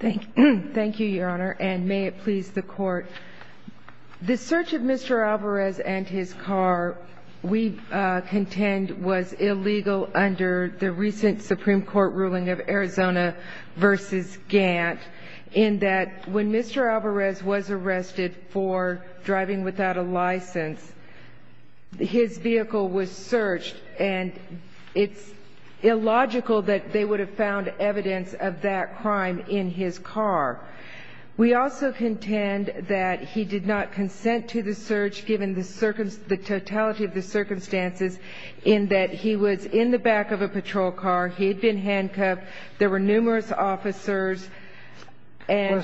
The search of Mr. Alvarez and his car, we contend, was illegal under the recent Supreme Court ruling of Arizona v. Gantt, in that when Mr. Alvarez was arrested for driving without a license, his vehicle was searched, and it's illogical that they would have found evidence of that crime in Arizona. We also contend that he did not consent to the search, given the totality of the circumstances, in that he was in the back of a patrol car, he had been handcuffed, there were numerous officers, and...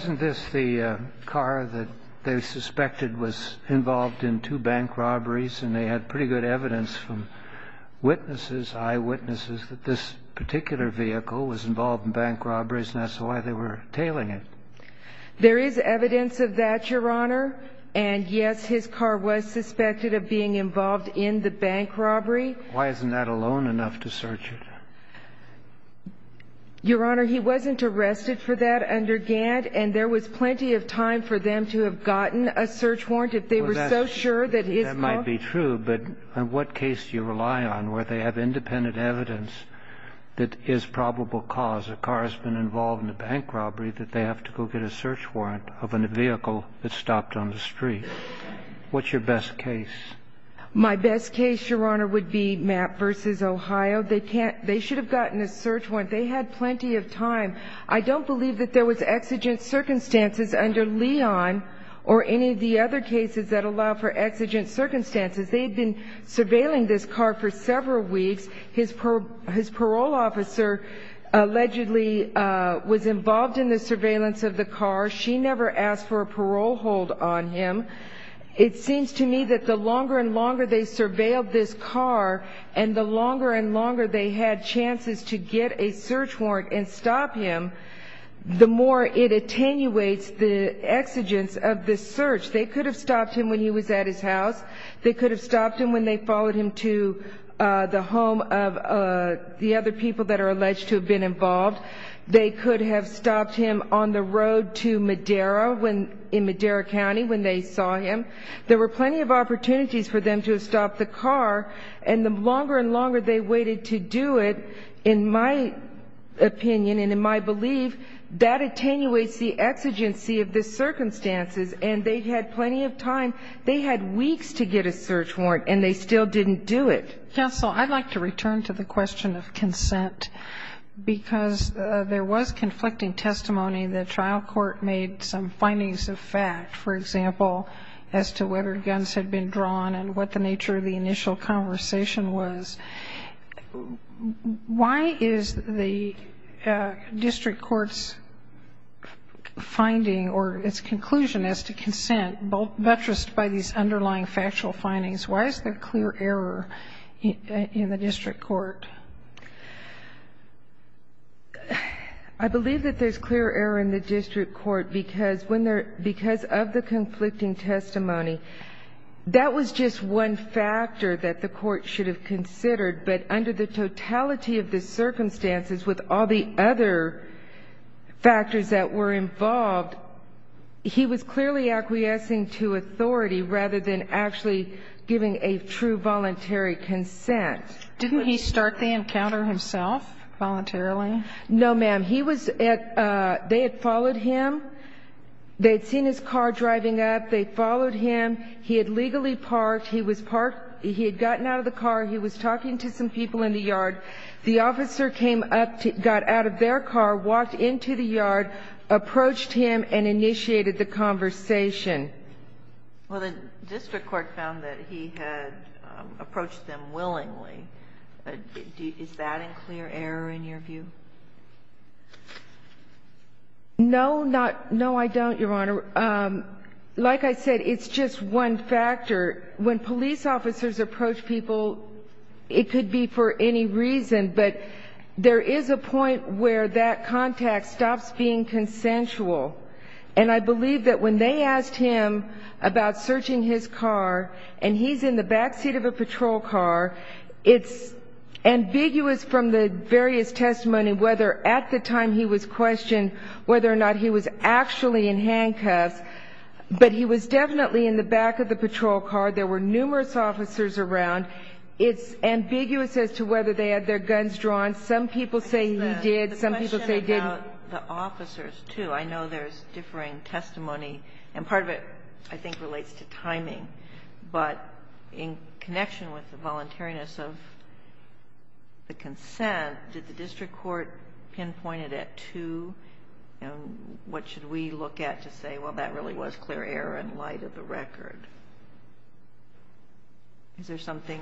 eyewitnesses that this particular vehicle was involved in bank robberies, and that's why they were tailing it. There is evidence of that, Your Honor, and yes, his car was suspected of being involved in the bank robbery. Why isn't that alone enough to search it? Your Honor, he wasn't arrested for that under Gantt, and there was plenty of time for them to have gotten a search warrant if they were so sure that his car... evidence that is probable cause, a car has been involved in a bank robbery, that they have to go get a search warrant of a vehicle that stopped on the street. What's your best case? My best case, Your Honor, would be Mapp v. Ohio. They should have gotten a search warrant. They had plenty of time. I don't believe that there was exigent circumstances under Leon or any of the other cases that allow for exigent circumstances. They had been surveilling this car for several weeks. His parole officer allegedly was involved in the surveillance of the car. She never asked for a parole hold on him. It seems to me that the longer and longer they surveilled this car, and the longer and longer they had chances to get a search warrant and stop him, the more it attenuates the exigence of this search. They could have stopped him when he was at his house. They could have stopped him when they followed him to the home of the other people that are alleged to have been involved. They could have stopped him on the road to Madera in Madera County when they saw him. There were plenty of opportunities for them to have stopped the car, and the longer and longer they waited to do it, in my opinion and in my belief, that attenuates the exigency of the circumstances, and they had plenty of time. They had weeks to get a search warrant, and they still didn't do it. Counsel, I'd like to return to the question of consent because there was conflicting testimony. The trial court made some findings of fact, for example, as to whether guns had been drawn and what the nature of the initial conversation was. Why is the district court's finding or its conclusion as to consent buttressed by these underlying factual findings? Why is there clear error in the district court? I believe that there's clear error in the district court because of the conflicting testimony. That was just one factor that the court should have considered, but under the totality of the circumstances with all the other factors that were involved, he was clearly acquiescing to authority rather than actually giving a true voluntary consent. Didn't he start the encounter himself voluntarily? No, ma'am. They had followed him. They had seen his car driving up. They had followed him. He had legally parked. He had gotten out of the car. He was talking to some people in the yard. The officer came up, got out of their car, walked into the yard, approached him, and initiated the conversation. Well, the district court found that he had approached them willingly. Is that a clear error in your view? No, I don't, Your Honor. Like I said, it's just one factor. When police officers approach people, it could be for any reason, but there is a point where that contact stops being consensual, and I believe that when they asked him about searching his car, and he's in the backseat of a patrol car, it's ambiguous from the various testimony whether at the time he was questioned whether or not he was actually in handcuffs, but he was definitely in the back of the patrol car. There were numerous officers around. It's ambiguous as to whether they had their guns drawn. Some people say he did. Some people say didn't. I know the officers, too. I know there's differing testimony, and part of it I think relates to timing, but in connection with the voluntariness of the consent, did the district court pinpoint it at two? What should we look at to say, well, that really was clear error in light of the record? Is there something?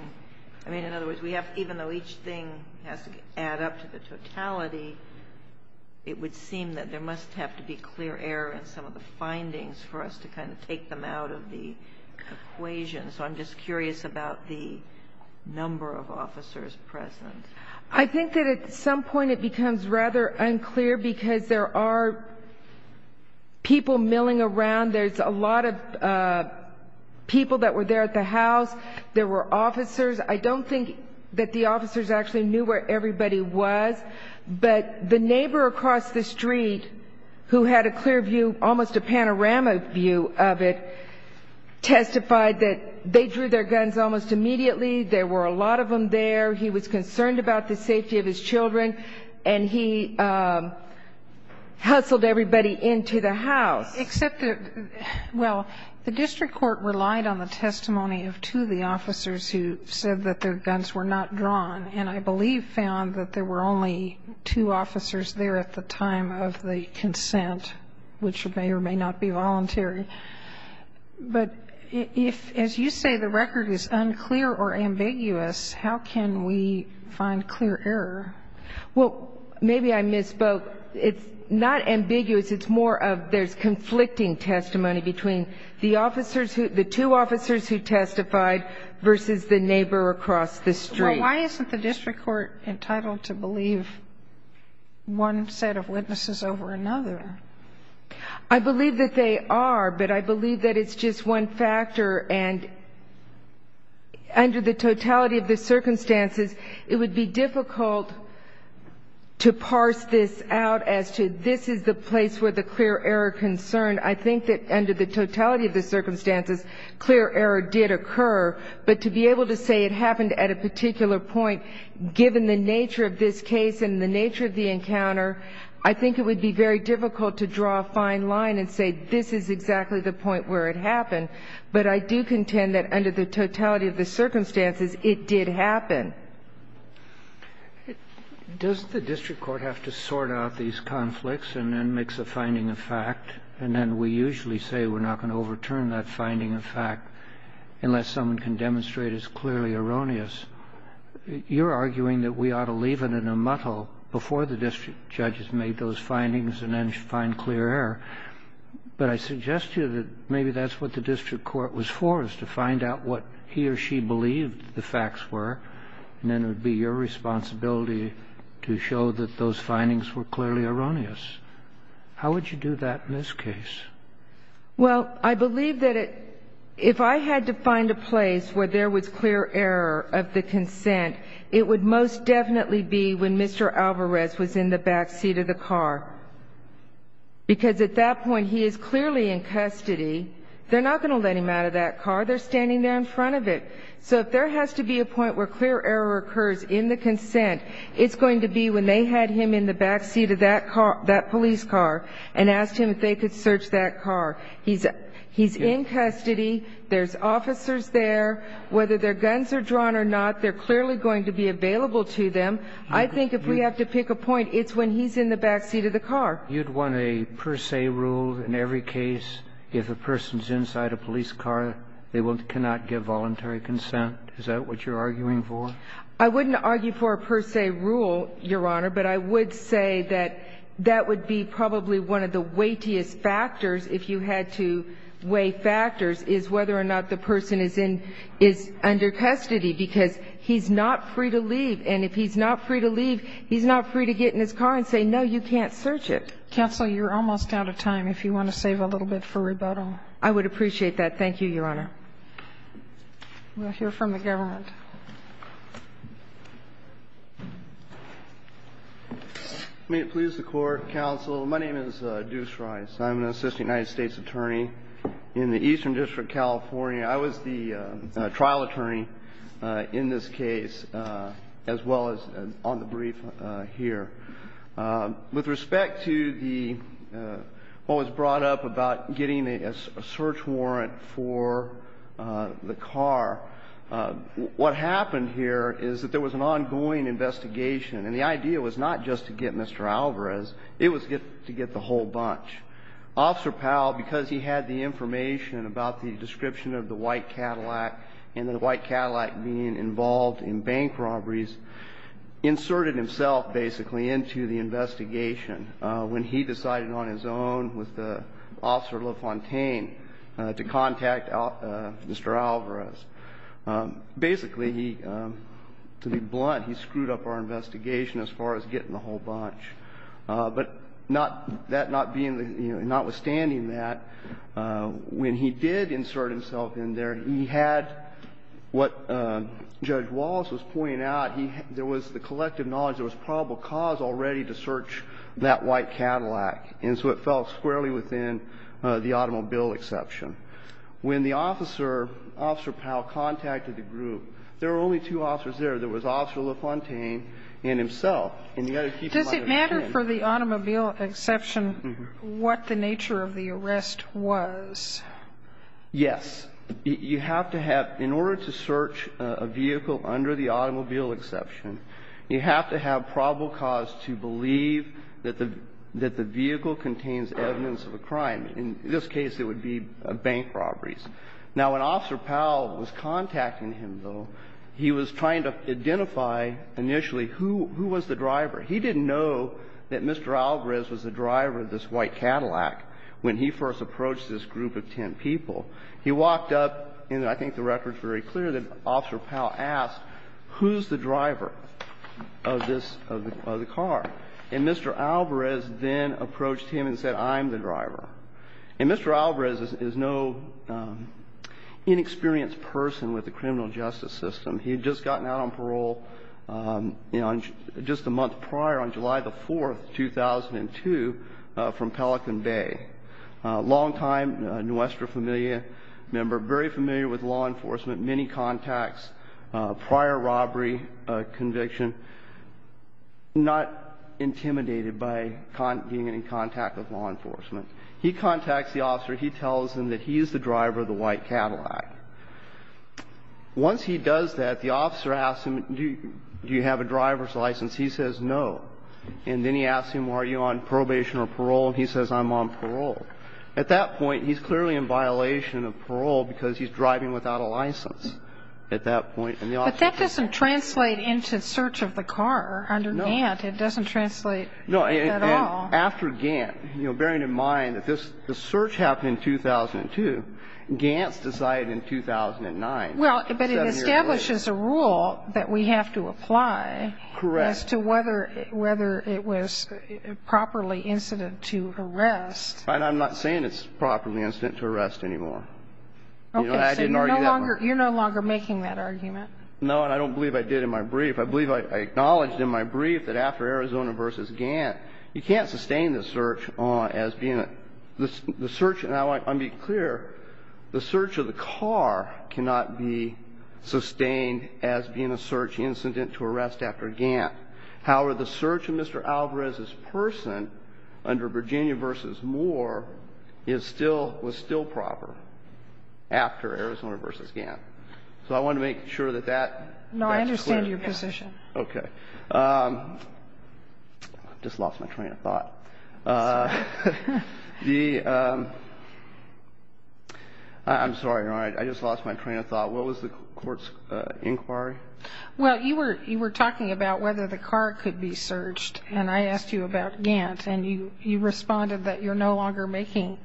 I mean, in other words, even though each thing has to add up to the totality, it would seem that there must have to be clear error in some of the findings for us to kind of take them out of the equation, so I'm just curious about the number of officers present. I think that at some point it becomes rather unclear because there are people milling around. There's a lot of people that were there at the house. There were officers. I don't think that the officers actually knew where everybody was, but the neighbor across the street who had a clear view, almost a panorama view of it, testified that they drew their guns almost immediately. There were a lot of them there. He was concerned about the safety of his children, and he hustled everybody into the house. Except that, well, the district court relied on the testimony of two of the officers who said that their guns were not drawn, and I believe found that there were only two officers there at the time of the consent, which may or may not be voluntary. But if, as you say, the record is unclear or ambiguous, how can we find clear error? Well, maybe I misspoke. It's not ambiguous. It's more of there's conflicting testimony between the two officers who testified versus the neighbor across the street. Well, why isn't the district court entitled to believe one set of witnesses over another? I believe that they are, but I believe that it's just one factor, and under the totality of the circumstances, it would be difficult to parse this out as to this is the place where the clear error concerned. I think that under the totality of the circumstances, clear error did occur, but to be able to say it happened at a particular point, given the nature of this case and the nature of the encounter, I think it would be very difficult to draw a fine line and say this is exactly the point where it happened. But I do contend that under the totality of the circumstances, it did happen. Does the district court have to sort out these conflicts and then mix a finding of fact, and then we usually say we're not going to overturn that finding of fact unless someone can demonstrate it's clearly erroneous? You're arguing that we ought to leave it in a muddle before the district judges make those findings and then find clear error. But I suggest to you that maybe that's what the district court was for, is to find out what he or she believed the facts were, and then it would be your responsibility to show that those findings were clearly erroneous. How would you do that in this case? Well, I believe that if I had to find a place where there was clear error of the consent, it would most definitely be when Mr. Alvarez was in the backseat of the car, because at that point he is clearly in custody. They're not going to let him out of that car. They're standing there in front of it. So if there has to be a point where clear error occurs in the consent, it's going to be when they had him in the backseat of that police car and asked him if they could search that car. He's in custody. There's officers there. Whether their guns are drawn or not, they're clearly going to be available to them. I think if we have to pick a point, it's when he's in the backseat of the car. You'd want a per se rule in every case. If a person's inside a police car, they cannot give voluntary consent. Is that what you're arguing for? I wouldn't argue for a per se rule, Your Honor, but I would say that that would be probably one of the weightiest factors, if you had to weigh factors, is whether or not the person is under custody, because he's not free to leave. And if he's not free to leave, he's not free to get in his car and say, no, you can't search it. Counsel, you're almost out of time. If you want to save a little bit for rebuttal. I would appreciate that. Thank you, Your Honor. We'll hear from the government. May it please the Court, Counsel. My name is Deuce Rice. I'm an assistant United States attorney in the Eastern District, California. I was the trial attorney in this case, as well as on the brief here. With respect to what was brought up about getting a search warrant for the car, what happened here is that there was an ongoing investigation, and the idea was not just to get Mr. Alvarez. It was to get the whole bunch. Officer Powell, because he had the information about the description of the white Cadillac and the white Cadillac being involved in bank robberies, inserted himself, basically, into the investigation when he decided on his own with Officer LaFontaine to contact Mr. Alvarez. Basically, to be blunt, he screwed up our investigation as far as getting the whole bunch. But not that not being, notwithstanding that, when he did insert himself in there, he had what Judge Wallace was pointing out. There was the collective knowledge there was probable cause already to search that white Cadillac. And so it fell squarely within the automobile exception. When the officer, Officer Powell, contacted the group, there were only two officers there. There was Officer LaFontaine and himself. And the other people might have changed. Sotomayor, does it matter for the automobile exception what the nature of the arrest was? Yes. You have to have – in order to search a vehicle under the automobile exception, you have to have probable cause to believe that the vehicle contains evidence of a crime. In this case, it would be bank robberies. Now, when Officer Powell was contacting him, though, he was trying to identify initially who was the driver. He didn't know that Mr. Alvarez was the driver of this white Cadillac when he first approached this group of ten people. He walked up, and I think the record's very clear that Officer Powell asked, who's the driver of this – of the car? And Mr. Alvarez then approached him and said, I'm the driver. And Mr. Alvarez is no inexperienced person with the criminal justice system. He had just gotten out on parole, you know, just a month prior, on July the 4th, 2002, from Pelican Bay. Long-time Nuestra Familia member, very familiar with law enforcement, many contacts, prior robbery conviction, not intimidated by being in contact with law enforcement. He contacts the officer. He tells him that he's the driver of the white Cadillac. Once he does that, the officer asks him, do you have a driver's license? He says no. And then he asks him, are you on probation or parole? And he says, I'm on parole. At that point, he's clearly in violation of parole because he's driving without a license at that point, and the officer says no. But that doesn't translate into search of the car under Gant. No. It doesn't translate at all. No. And after Gant, you know, bearing in mind that this – the search happened in 2002, Gant's decided in 2009, seven years later. Well, but it establishes a rule that we have to apply. Correct. As to whether it was properly incident to arrest. And I'm not saying it's properly incident to arrest anymore. Okay. I didn't argue that one. So you're no longer making that argument? No, and I don't believe I did in my brief. I believe I acknowledged in my brief that after Arizona v. Gant, you can't sustain the search as being a – the search, and I want to be clear, the search of the car cannot be sustained as being a search incident to arrest after Gant. However, the search of Mr. Alvarez's person under Virginia v. Moore is still – was still proper after Arizona v. Gant. So I want to make sure that that's clear. No, I understand your position. Okay. I just lost my train of thought. I'm sorry. The – I'm sorry, Your Honor. I just lost my train of thought. What was the court's inquiry? Well, you were talking about whether the car could be searched, and I asked you about Gant, and you responded that you're no longer making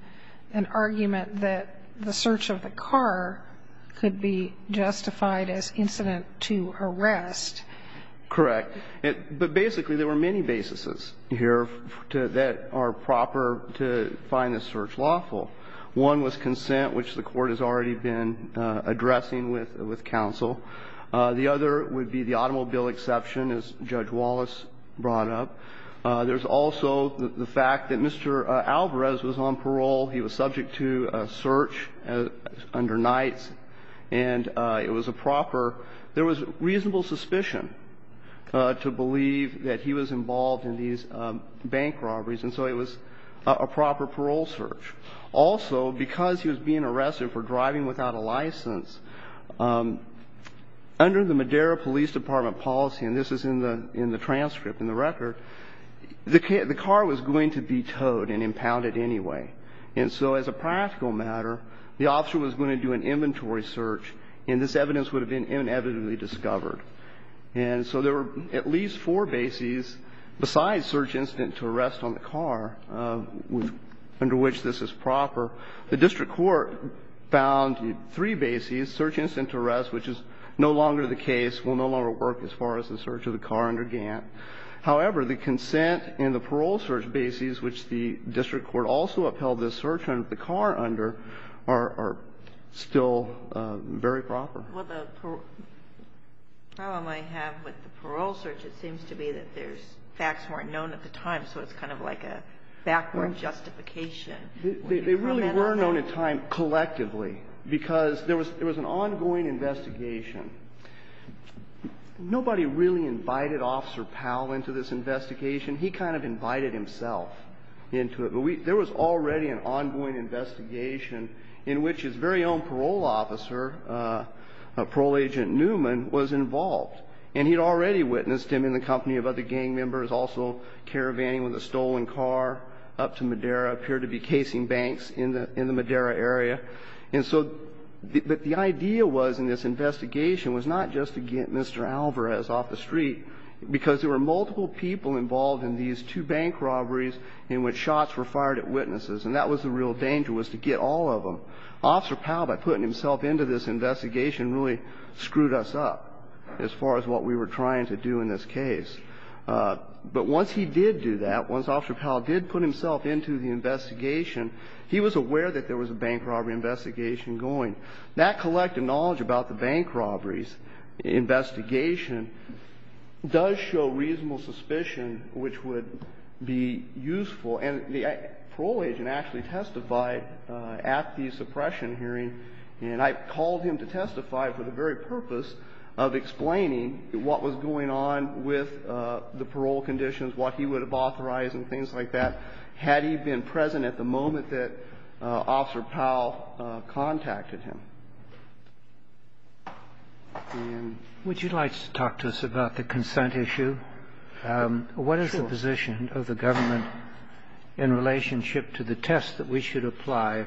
an argument that the search of the car could be justified as incident to arrest. Correct. But basically, there were many basis here that are proper to find the search lawful. One was consent, which the court has already been addressing with counsel. The other would be the automobile exception, as Judge Wallace brought up. There's also the fact that Mr. Alvarez was on parole. He was subject to a search under Knight's, and it was a proper – there was reasonable suspicion to believe that he was involved in these bank robberies, and so it was a proper parole search. Also, because he was being arrested for driving without a license, under the Madera Police Department policy, and this is in the transcript, in the record, the car was going to be towed and impounded anyway. And so as a practical matter, the officer was going to do an inventory search, and this And so there were at least four bases besides search incident to arrest on the car, under which this is proper. The district court found three bases, search incident to arrest, which is no longer the case, will no longer work as far as the search of the car under Gantt. However, the consent and the parole search bases, which the district court also upheld the search on the car under, are still very proper. The problem I have with the parole search, it seems to be that there's facts weren't known at the time, so it's kind of like a backward justification. They really were known at the time collectively, because there was an ongoing investigation. Nobody really invited Officer Powell into this investigation. He kind of invited himself into it. But there was already an ongoing investigation in which his very own parole officer, Parole Agent Newman, was involved. And he had already witnessed him in the company of other gang members, also caravanning with a stolen car up to Madera, appeared to be casing banks in the Madera area. And so the idea was in this investigation was not just to get Mr. Alvarez off the street, because there were multiple people involved in these two bank robberies in which shots were fired at witnesses. And that was the real danger, was to get all of them. Officer Powell, by putting himself into this investigation, really screwed us up as far as what we were trying to do in this case. But once he did do that, once Officer Powell did put himself into the investigation, he was aware that there was a bank robbery investigation going. That collective knowledge about the bank robberies investigation does show reasonable suspicion which would be useful. And the parole agent actually testified at the suppression hearing. And I called him to testify for the very purpose of explaining what was going on with the parole conditions, what he would have authorized and things like that had he been present at the moment that Officer Powell contacted him. Would you like to talk to us about the consent issue? What is the position of the government in relationship to the test that we should apply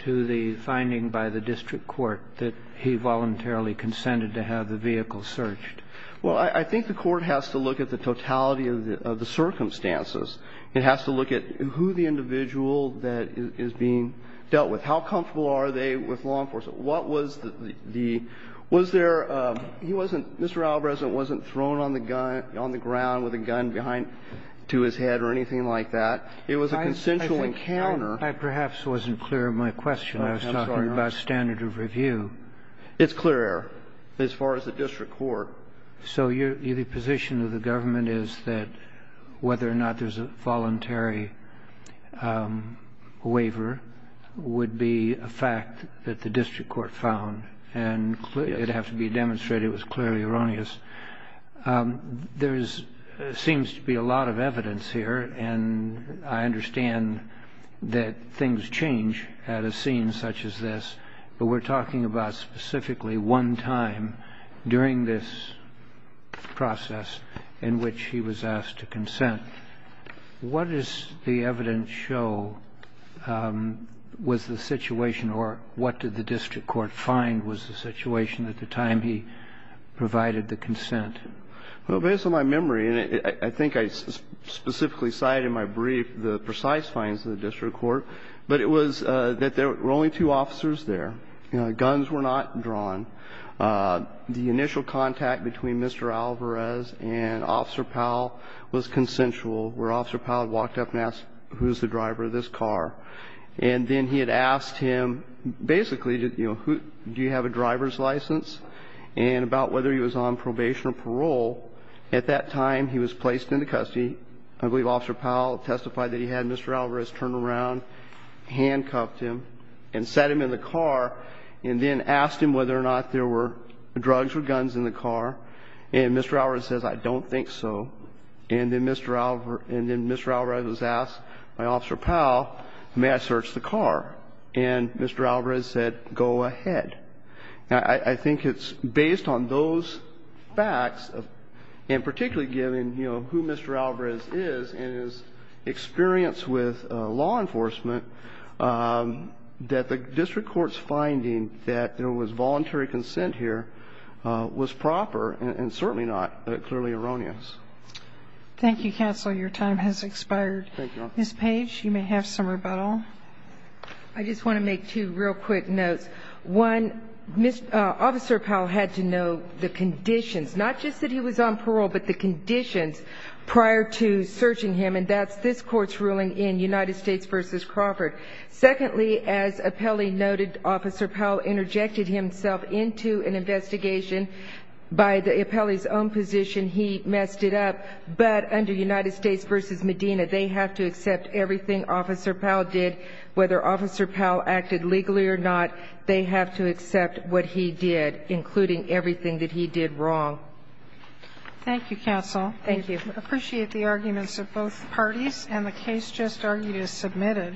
to the finding by the district court that he voluntarily consented to have the vehicle searched? Well, I think the court has to look at the totality of the circumstances. It has to look at who the individual that is being dealt with. How comfortable are they with law enforcement? What was the – was there – he wasn't – Mr. Albresant wasn't thrown on the gun – on the ground with a gun behind – to his head or anything like that. It was a consensual encounter. I perhaps wasn't clear of my question. I was talking about standard of review. It's clear as far as the district court. I'm not sure that a standard of review waiver would be a fact that the district court found. And it would have to be demonstrated it was clearly erroneous. There seems to be a lot of evidence here, and I understand that things change at a scene such as this. But we're talking about specifically one time during this process in which he was asked to consent. What does the evidence show was the situation or what did the district court find was the situation at the time he provided the consent? Well, based on my memory, and I think I specifically cited in my brief the precise findings of the district court, but it was that there were only two officers there. Guns were not drawn. The initial contact between Mr. Alvarez and Officer Powell was consensual, where Officer Powell walked up and asked, who's the driver of this car? And then he had asked him basically, do you have a driver's license, and about whether he was on probation or parole. At that time, he was placed into custody. I believe Officer Powell testified that he had Mr. Alvarez turn around, handcuffed him, and sat him in the car, and then asked him whether or not there were drugs or guns in the car. And Mr. Alvarez says, I don't think so. And then Mr. Alvarez was asked by Officer Powell, may I search the car? And Mr. Alvarez said, go ahead. Now, I think it's based on those facts, and particularly given who Mr. Alvarez is, and his experience with law enforcement, that the district court's finding that there was voluntary consent here was proper, and certainly not clearly erroneous. Thank you, Counselor. Your time has expired. Thank you. Ms. Page, you may have some rebuttal. I just want to make two real quick notes. One, Officer Powell had to know the conditions, not just that he was on parole, but the conditions prior to searching him, and that's this Court's ruling in United States v. Crawford. Secondly, as Appelli noted, Officer Powell interjected himself into an investigation. By Appelli's own position, he messed it up. But under United States v. Medina, they have to accept everything Officer Powell did. Whether Officer Powell acted legally or not, they have to accept what he did, including everything that he did wrong. Thank you, Counsel. Thank you. I appreciate the arguments of both parties, and the case just argued is submitted.